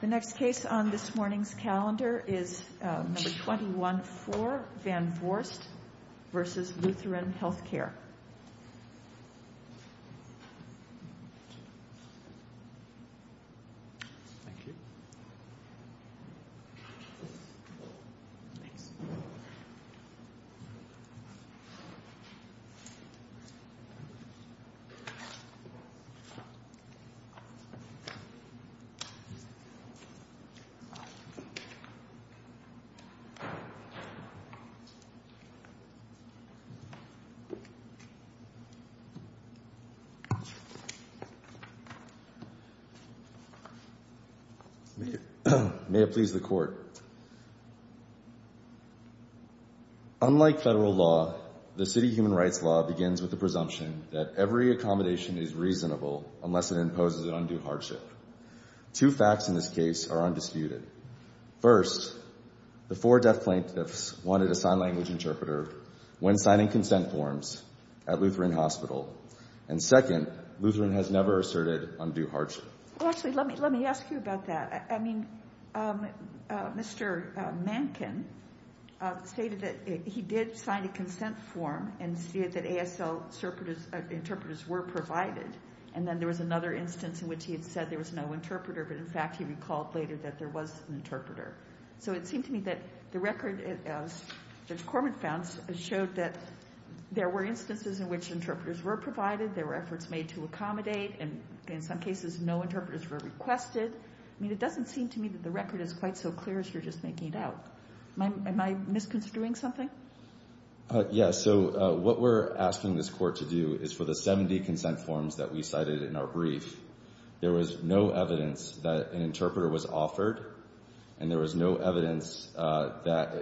The next case on this morning's calendar is No. 21-4, Van Vorst v. Lutheran Healthcare May it please the Court Unlike federal law, the city human rights law begins with the presumption that every accommodation is reasonable unless it imposes an undue hardship Two facts in this case are undisputed. First, the four deaf plaintiffs wanted a sign language interpreter when signing consent forms at Lutheran Hospital And second, Lutheran has never asserted undue hardship Well, actually, let me ask you about that. I mean, Mr. Mankin stated that he did sign a consent form and stated that ASL interpreters were provided And then there was another instance in which he had said there was no interpreter, but in fact he recalled later that there was an interpreter So it seemed to me that the record, as Judge Corman found, showed that there were instances in which interpreters were provided There were efforts made to accommodate, and in some cases no interpreters were requested I mean, it doesn't seem to me that the record is quite so clear as you're just making it out Am I misconstruing something? Yes, so what we're asking this Court to do is for the 70 consent forms that we cited in our brief There was no evidence that an interpreter was offered, and there was no evidence that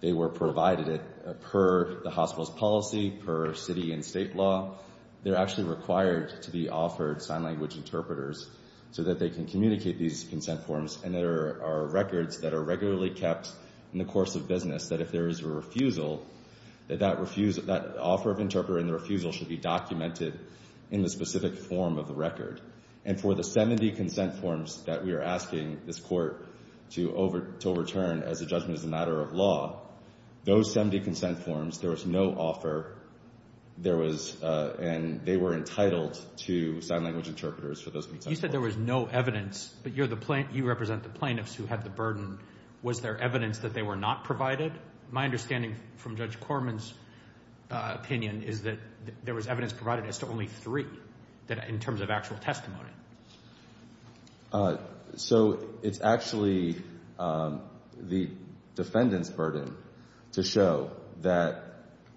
they were provided Per the hospital's policy, per city and state law They're actually required to be offered sign language interpreters so that they can communicate these consent forms And there are records that are regularly kept in the course of business That if there is a refusal, that that offer of interpreter and the refusal should be documented in the specific form of the record And for the 70 consent forms that we are asking this Court to overturn as a judgment as a matter of law Those 70 consent forms, there was no offer, and they were entitled to sign language interpreters for those consent forms You said there was no evidence, but you represent the plaintiffs who had the burden Was there evidence that they were not provided? My understanding from Judge Corman's opinion is that there was evidence provided as to only three In terms of actual testimony So it's actually the defendant's burden to show that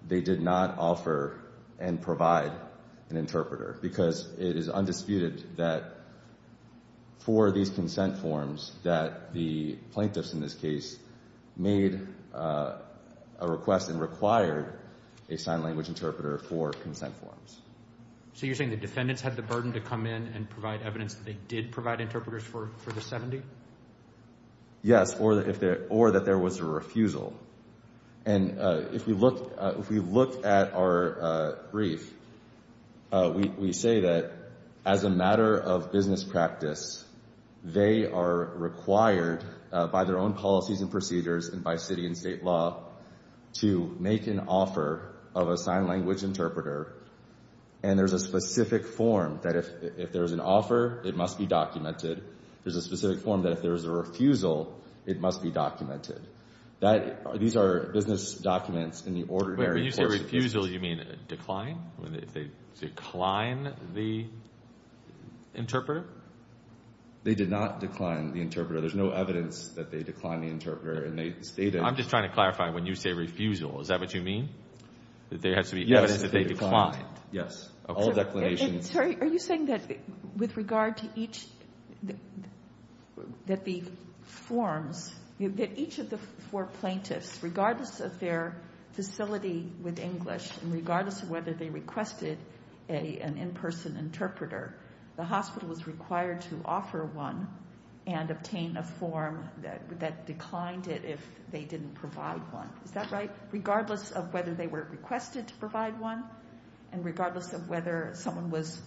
they did not offer and provide an interpreter Because it is undisputed that for these consent forms that the plaintiffs in this case made a request And required a sign language interpreter for consent forms So you're saying the defendants had the burden to come in and provide evidence that they did provide interpreters for the 70? Yes, or that there was a refusal And if we look at our brief, we say that as a matter of business practice They are required by their own policies and procedures and by city and state law To make an offer of a sign language interpreter And there's a specific form that if there's an offer, it must be documented There's a specific form that if there's a refusal, it must be documented These are business documents in the ordinary course of business When you say refusal, you mean decline? They decline the interpreter? They did not decline the interpreter There's no evidence that they declined the interpreter I'm just trying to clarify, when you say refusal, is that what you mean? That there has to be evidence that they declined? Yes, all declinations Are you saying that with regard to each That the forms, that each of the four plaintiffs Regardless of their facility with English And regardless of whether they requested an in-person interpreter The hospital was required to offer one And obtain a form that declined it if they didn't provide one Is that right? Regardless of whether they were requested to provide one And regardless of whether someone was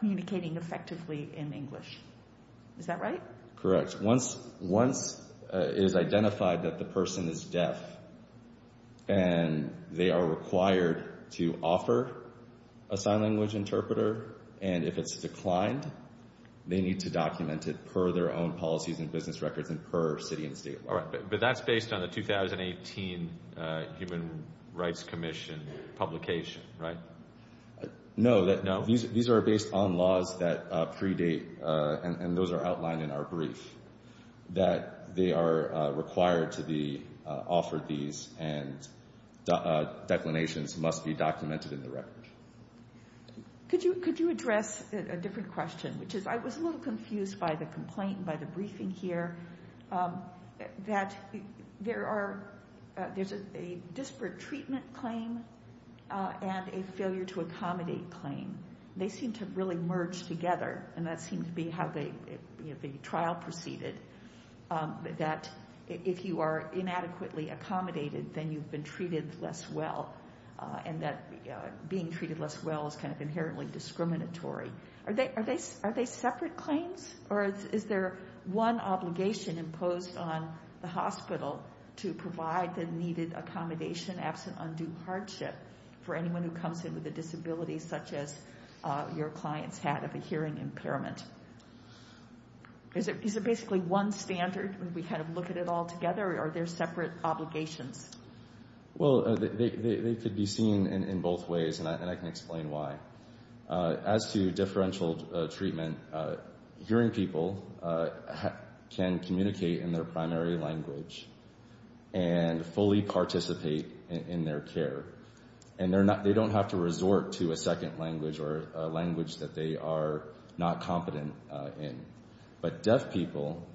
communicating effectively in English Is that right? Correct Once it is identified that the person is deaf And they are required to offer a sign language interpreter And if it's declined, they need to document it Per their own policies and business records and per city and state But that's based on the 2018 Human Rights Commission publication, right? No, these are based on laws that predate And those are outlined in our brief That they are required to be offered these And declinations must be documented in the record Could you address a different question? I was a little confused by the complaint, by the briefing here That there's a disparate treatment claim And a failure to accommodate claim They seem to really merge together And that seems to be how the trial proceeded That if you are inadequately accommodated Then you've been treated less well And that being treated less well is inherently discriminatory Are they separate claims? Or is there one obligation imposed on the hospital To provide the needed accommodation Absent undue hardship for anyone who comes in with a disability Such as your client's had of a hearing impairment Is it basically one standard When we kind of look at it all together Or are there separate obligations? Well, they could be seen in both ways And I can explain why As to differential treatment Hearing people can communicate in their primary language And fully participate in their care And they don't have to resort to a second language Or a language that they are not competent in But deaf people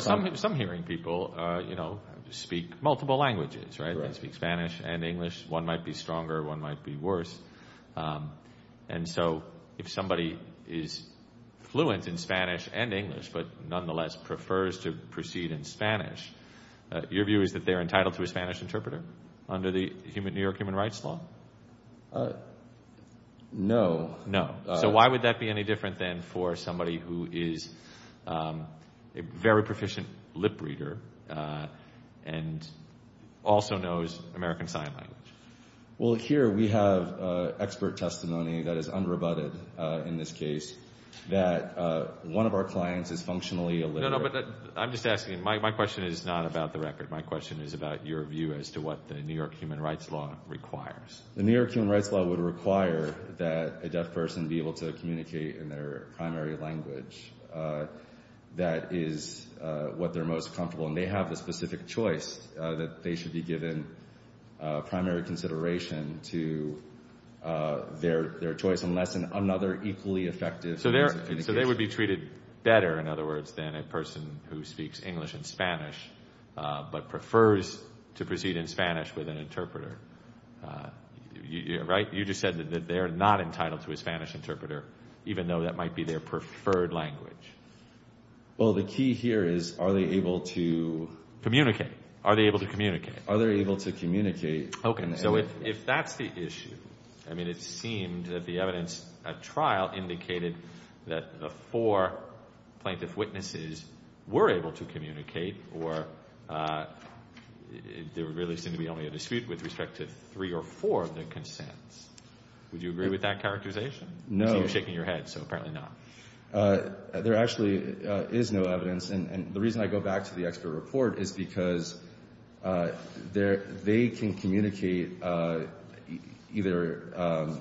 Some hearing people speak multiple languages They speak Spanish and English One might be stronger, one might be worse And so if somebody is fluent in Spanish and English But nonetheless prefers to proceed in Spanish Your view is that they are entitled to a Spanish interpreter Under the New York Human Rights Law? No So why would that be any different than for somebody Who is a very proficient lip reader And also knows American Sign Language? Well, here we have expert testimony That is unrebutted in this case That one of our clients is functionally a lip reader No, no, but I'm just asking My question is not about the record My question is about your view As to what the New York Human Rights Law requires The New York Human Rights Law would require That a deaf person be able to communicate In their primary language That is what they're most comfortable And they have a specific choice That they should be given primary consideration To their choice Unless another equally effective means of communication So they would be treated better, in other words Than a person who speaks English and Spanish But prefers to proceed in Spanish with an interpreter Right? You just said that they're not entitled to a Spanish interpreter Even though that might be their preferred language Well, the key here is Are they able to communicate? Are they able to communicate? Are they able to communicate? Okay, so if that's the issue I mean, it seemed that the evidence at trial Indicated that the four plaintiff witnesses Were able to communicate Or there really seemed to be only a dispute With respect to three or four of their consents Would you agree with that characterization? No I see you're shaking your head, so apparently not There actually is no evidence And the reason I go back to the expert report Is because they can communicate Either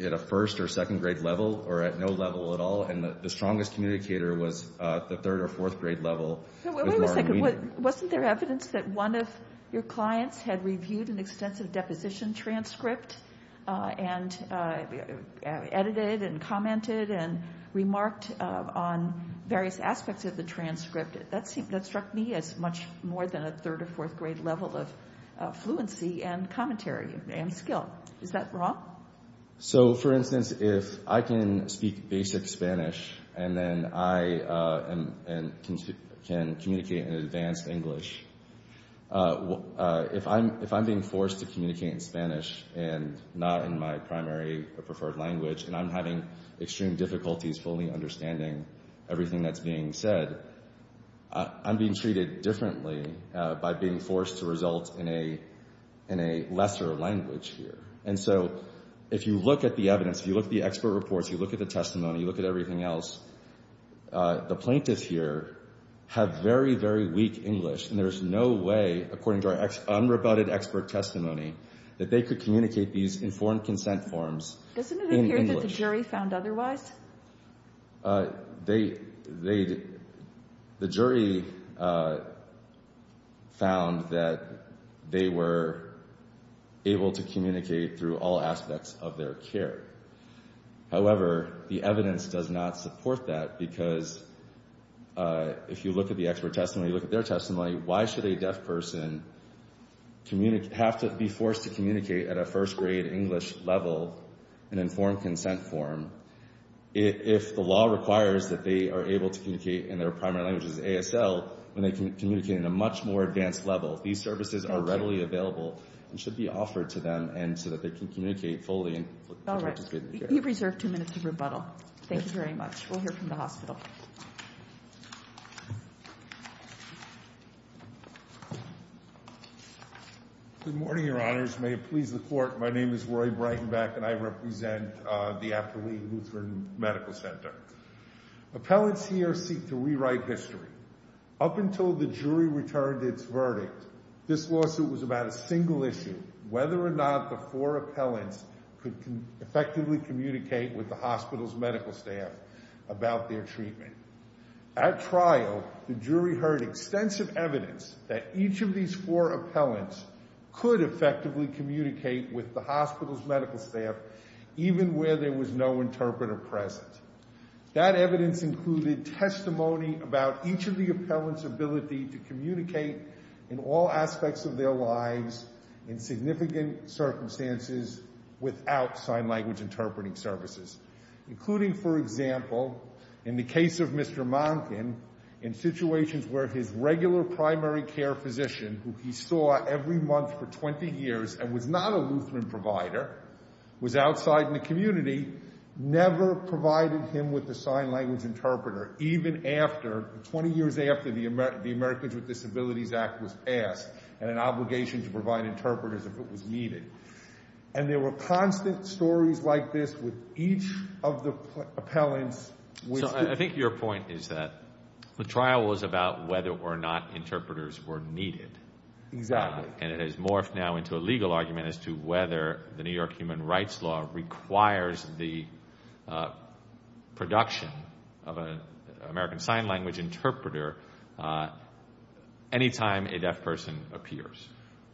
at a first or second grade level Or at no level at all And the strongest communicator was The third or fourth grade level Wait a second, wasn't there evidence That one of your clients had reviewed An extensive deposition transcript And edited and commented And remarked on various aspects of the transcript That struck me as much more than A third or fourth grade level of fluency And commentary and skill Is that wrong? So, for instance, if I can speak basic Spanish And then I can communicate in advanced English If I'm being forced to communicate in Spanish And not in my primary or preferred language And I'm having extreme difficulties Fully understanding everything that's being said I'm being treated differently By being forced to result in a lesser language here And so, if you look at the evidence If you look at the expert reports If you look at the testimony If you look at everything else The plaintiffs here have very, very weak English And there's no way, according to our unrebutted expert testimony That they could communicate these informed consent forms Doesn't it appear that the jury found otherwise? The jury found that they were able to communicate Through all aspects of their care However, the evidence does not support that Because if you look at the expert testimony If you look at their testimony Why should a deaf person have to be forced to communicate At a first grade English level An informed consent form If the law requires that they are able to communicate In their primary language as ASL When they communicate in a much more advanced level These services are readily available And should be offered to them So that they can communicate fully All right, you've reserved two minutes of rebuttal Thank you very much We'll hear from the hospital Good morning, your honors May it please the court My name is Roy Breitenbach And I represent the After Lee Lutheran Medical Center Appellants here seek to rewrite history Up until the jury returned its verdict This lawsuit was about a single issue Whether or not the four appellants Could effectively communicate with the hospital's medical staff About their treatment At trial, the jury heard extensive evidence That each of these four appellants Could effectively communicate With the hospital's medical staff Even where there was no interpreter present That evidence included testimony About each of the appellants' ability To communicate in all aspects of their lives In significant circumstances Without sign language interpreting services Including, for example, in the case of Mr. Monkin In situations where his regular primary care physician Who he saw every month for 20 years And was not a Lutheran provider Was outside in the community Never provided him with a sign language interpreter Even after, 20 years after The Americans with Disabilities Act was passed And an obligation to provide interpreters If it was needed And there were constant stories like this With each of the appellants I think your point is that The trial was about whether or not Exactly And it has morphed now into a legal argument As to whether the New York Human Rights Law Requires the production Of an American Sign Language interpreter Anytime a deaf person appears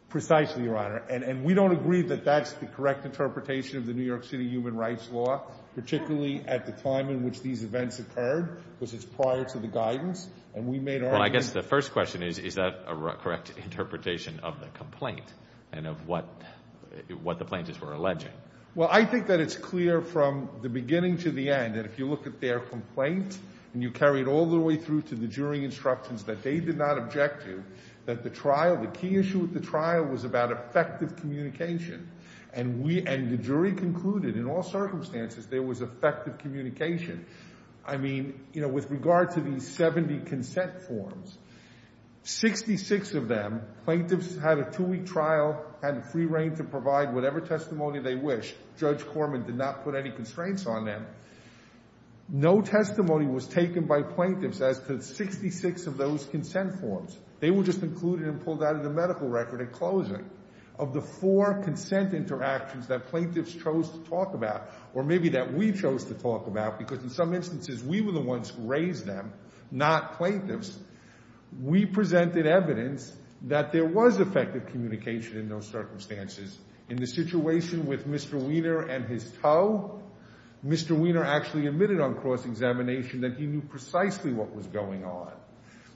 Precisely, Your Honor And we don't agree that that's the correct interpretation Of the New York City Human Rights Law Particularly at the time in which these events occurred Because it's prior to the guidance And we made our own Well, I guess the first question is Is that a correct interpretation of the complaint And of what the plaintiffs were alleging? Well, I think that it's clear from the beginning to the end That if you look at their complaint And you carry it all the way through to the jury instructions That they did not object to That the trial, the key issue with the trial Was about effective communication And the jury concluded in all circumstances There was effective communication I mean, you know, with regard to these 70 consent forms 66 of them Plaintiffs had a two-week trial Had free reign to provide whatever testimony they wish Judge Corman did not put any constraints on them No testimony was taken by plaintiffs As to 66 of those consent forms They were just included and pulled out of the medical record at closing Of the four consent interactions That plaintiffs chose to talk about Or maybe that we chose to talk about Because in some instances We were the ones who raised them Not plaintiffs We presented evidence That there was effective communication In those circumstances In the situation with Mr. Wiener and his toe Mr. Wiener actually admitted on cross-examination That he knew precisely what was going on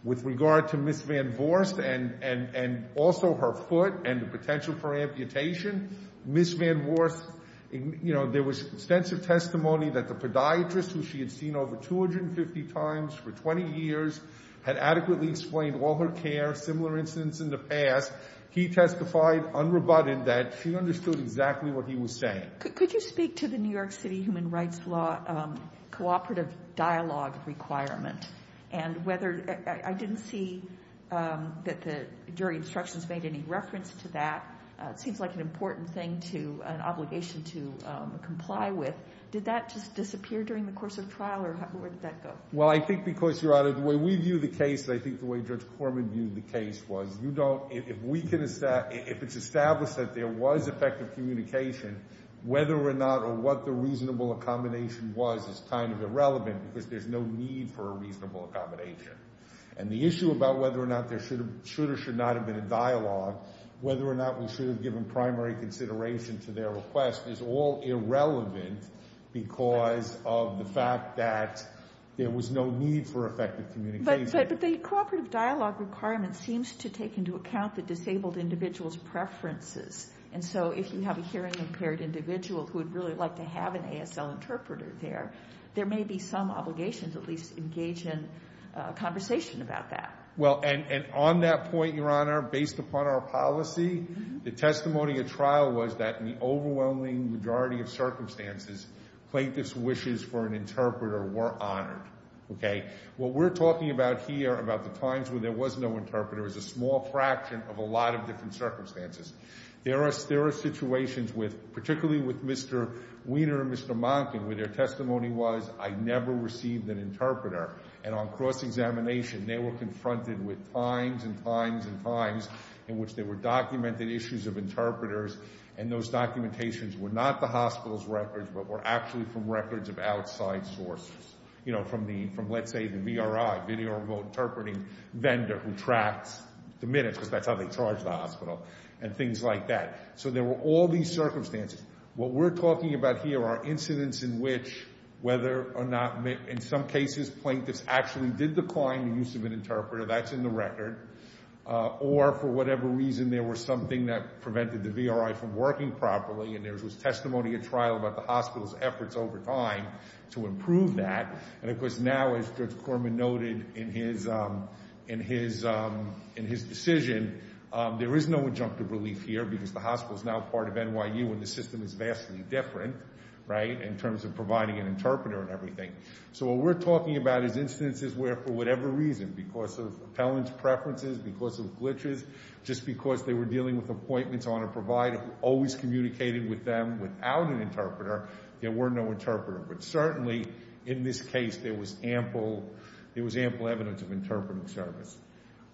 With regard to Ms. Van Voorst And also her foot And the potential for amputation Ms. Van Voorst, you know There was extensive testimony That the podiatrist who she had seen over 250 times For 20 years Had adequately explained all her care Similar incidents in the past He testified unrebutted That she understood exactly what he was saying Could you speak to the New York City Human Rights Law Cooperative dialogue requirement And whether I didn't see That the jury instructions made any reference to that It seems like an important thing to An obligation to comply with Did that just disappear during the course of trial Or where did that go? Well I think because Your Honor The way we view the case I think the way Judge Corman viewed the case Was you don't If we can If it's established that there was effective communication Whether or not Or what the reasonable accommodation was Is kind of irrelevant Because there's no need for a reasonable accommodation And the issue about whether or not There should or should not have been a dialogue Whether or not we should have given Primary consideration to their request Is all irrelevant Because of the fact that There was no need for effective communication But the cooperative dialogue requirement Seems to take into account The disabled individual's preferences And so if you have a hearing impaired individual Who would really like to have an ASL interpreter there There may be some obligations At least engage in a conversation about that Well and on that point Your Honor Based upon our policy The testimony at trial was that In the overwhelming majority of circumstances Plaintiff's wishes for an interpreter Were honored Okay What we're talking about here About the times when there was no interpreter Is a small fraction of a lot of different circumstances There are situations with Particularly with Mr. Wiener and Mr. Monken Where their testimony was I never received an interpreter And on cross-examination They were confronted with times and times and times In which there were documented issues of interpreters And those documentations were not the hospital's records But were actually from records of outside sources You know from the From let's say the VRI Video Remote Interpreting Vendor Who tracks the minutes Because that's how they charge the hospital And things like that So there were all these circumstances What we're talking about here Are incidents in which Whether or not In some cases Plaintiffs actually did decline the use of an interpreter That's in the record Or for whatever reason There was something that Prevented the VRI from working properly And there was testimony at trial About the hospital's efforts over time To improve that And of course now as Judge Korman noted In his decision There is no injunctive relief here Because the hospital is now part of NYU And the system is vastly different In terms of providing an interpreter and everything So what we're talking about Is instances where for whatever reason Because of appellant's preferences Because of glitches Just because they were dealing with appointments On a provider who always communicated with them Without an interpreter There were no interpreters But certainly in this case There was ample evidence of interpretive service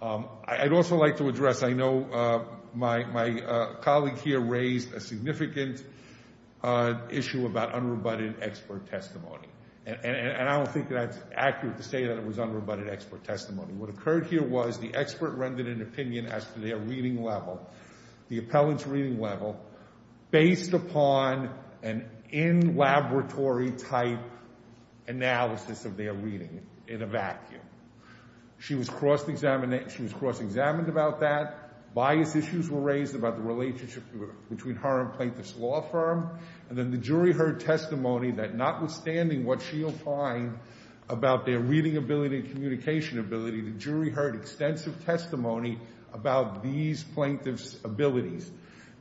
I'd also like to address I know my colleague here Raised a significant issue About unrebutted expert testimony And I don't think that's accurate To say that it was unrebutted expert testimony What occurred here was The expert rendered an opinion As to their reading level The appellant's reading level Based upon an in-laboratory type Analysis of their reading In a vacuum She was cross-examined about that Bias issues were raised about the relationship Between her and plaintiff's law firm And then the jury heard testimony That notwithstanding what she opined About their reading ability And communication ability The jury heard extensive testimony About these plaintiff's abilities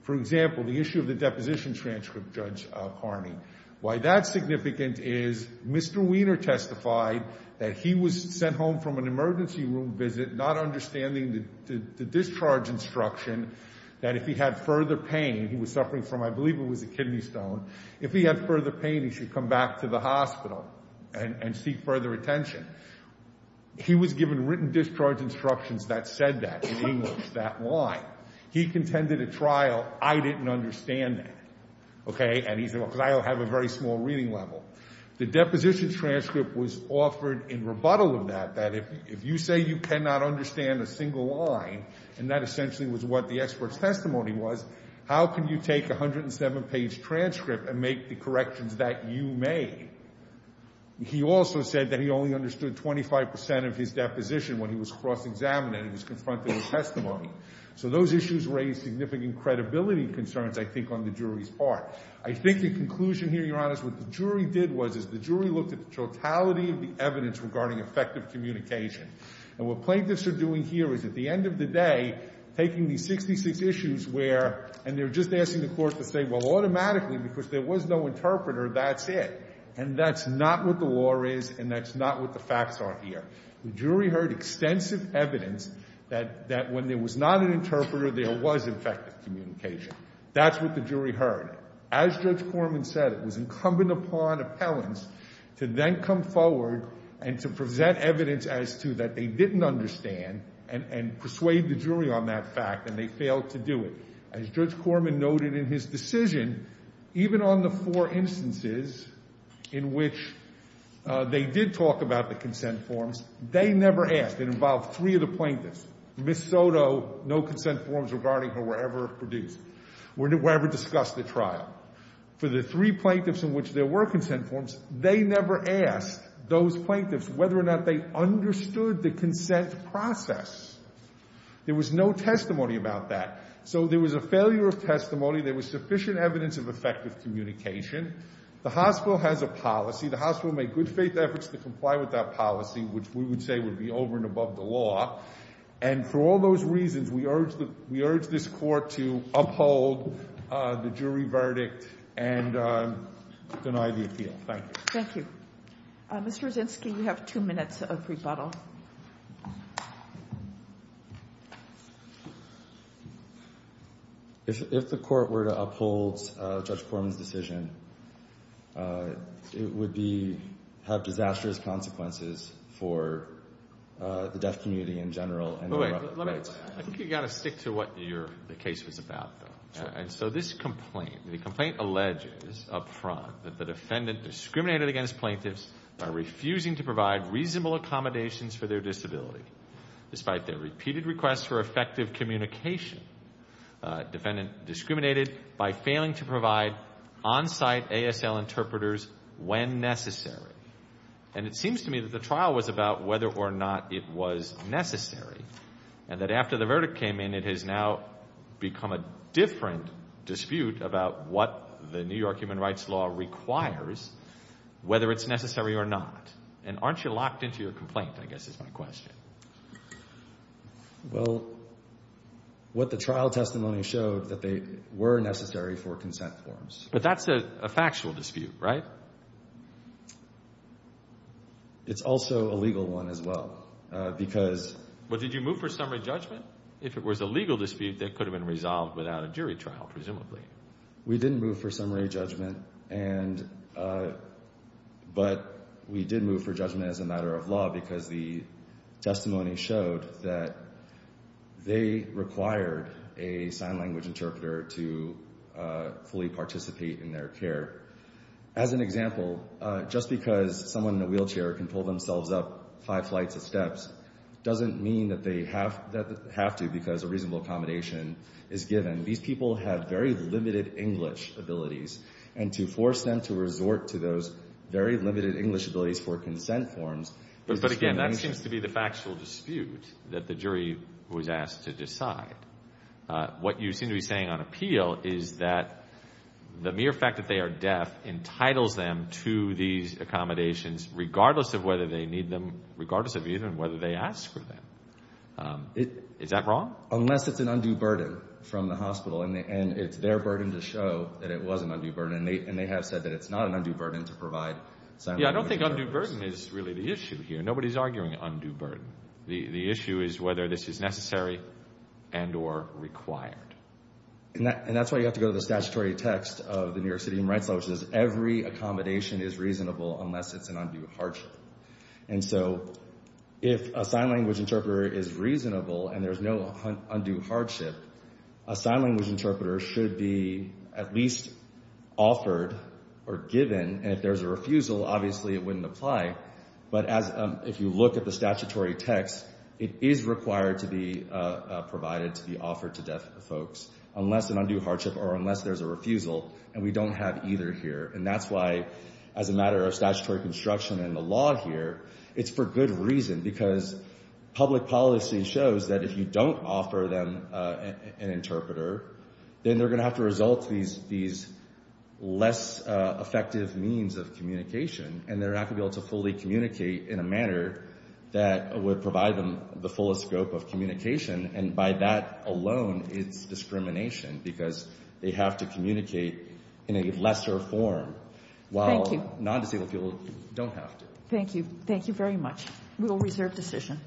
For example, the issue of the deposition transcript Judge Carney Why that's significant is Mr. Wiener testified That he was sent home from an emergency room visit Not understanding the discharge instruction That if he had further pain He was suffering from, I believe it was a kidney stone If he had further pain He should come back to the hospital And seek further attention He was given written discharge instructions That said that in English, that line He contended at trial I didn't understand that Okay, and he said Because I have a very small reading level The deposition transcript was offered In rebuttal of that That if you say you cannot understand a single line And that essentially was what the expert's testimony was How can you take a 107-page transcript And make the corrections that you made? He also said that he only understood 25% of his deposition When he was cross-examined And he was confronted with testimony So those issues raise significant credibility concerns I think on the jury's part I think the conclusion here, Your Honor Is what the jury did was Is the jury looked at the totality of the evidence Regarding effective communication And what plaintiffs are doing here Is at the end of the day Taking these 66 issues where And they're just asking the court to say Well, automatically Because there was no interpreter That's it And that's not what the law is And that's not what the facts are here The jury heard extensive evidence That when there was not an interpreter There was effective communication That's what the jury heard As Judge Corman said It was incumbent upon appellants To then come forward And to present evidence as to That they didn't understand And persuade the jury on that fact And they failed to do it As Judge Corman noted in his decision Even on the four instances In which they did talk about the consent forms They never asked It involved three of the plaintiffs Ms. Soto, no consent forms Regarding her were ever produced Were ever discussed at trial For the three plaintiffs In which there were consent forms They never asked those plaintiffs Whether or not they understood The consent process There was no testimony about that So there was a failure of testimony There was sufficient evidence Of effective communication The hospital has a policy The hospital made good faith efforts To comply with that policy Which we would say Would be over and above the law And for all those reasons We urge this court To uphold the jury verdict And deny the appeal Thank you Thank you Mr. Brzezinski You have two minutes of rebuttal If the court were to uphold Judge Corman's decision It would be Have disastrous consequences For the deaf community in general I think you've got to stick to What the case was about And so this complaint The complaint alleges up front That the defendant discriminated against plaintiffs By refusing to provide reasonable accommodations For their disability Despite their repeated requests For effective communication Defendant discriminated By failing to provide On-site ASL interpreters When necessary And it seems to me That the trial was about Whether or not it was necessary And that after the verdict came in It has now become a different dispute About what the New York Human Rights Law requires Whether it's necessary or not And aren't you locked into your complaint I guess is my question Well What the trial testimony showed That they were necessary for consent forms But that's a factual dispute, right? It's also a legal one as well Because But did you move for summary judgment? If it was a legal dispute That could have been resolved Without a jury trial, presumably We didn't move for summary judgment And But We did move for judgment As a matter of law Because the testimony showed That They required A sign language interpreter To fully participate in their care As an example Just because someone in a wheelchair Can pull themselves up Five flights of steps Doesn't mean that they have to Because a reasonable accommodation is given These people have very limited English abilities And to force them to resort To those very limited English abilities For consent forms But again That seems to be the factual dispute That the jury was asked to decide What you seem to be saying on appeal Is that The mere fact that they are deaf Entitles them to these accommodations Regardless of whether they need them Regardless of even whether they ask for them Is that wrong? Unless it's an undue burden From the hospital And it's their burden to show That it was an undue burden And they have said That it's not an undue burden To provide sign language interpreters Yeah, I don't think undue burden Is really the issue here Nobody's arguing undue burden The issue is whether this is necessary And or required And that's why you have to go to the statutory text Of the New York City Human Rights Law Which says every accommodation is reasonable Unless it's an undue hardship And so If a sign language interpreter is reasonable And there's no undue hardship A sign language interpreter should be At least offered Or given And if there's a refusal Obviously it wouldn't apply But as If you look at the statutory text It is required to be provided To be offered to deaf folks Unless an undue hardship Or unless there's a refusal And we don't have either here And that's why As a matter of statutory construction And the law here It's for good reason Because public policy shows That if you don't offer them An interpreter Then they're going to have to result To these Less effective means of communication And they're not going to be able To fully communicate In a manner That would provide them The fullest scope of communication And by that alone It's discrimination Because they have to communicate In a lesser form Thank you While non-disabled people Don't have to Thank you Thank you very much We will reserve decision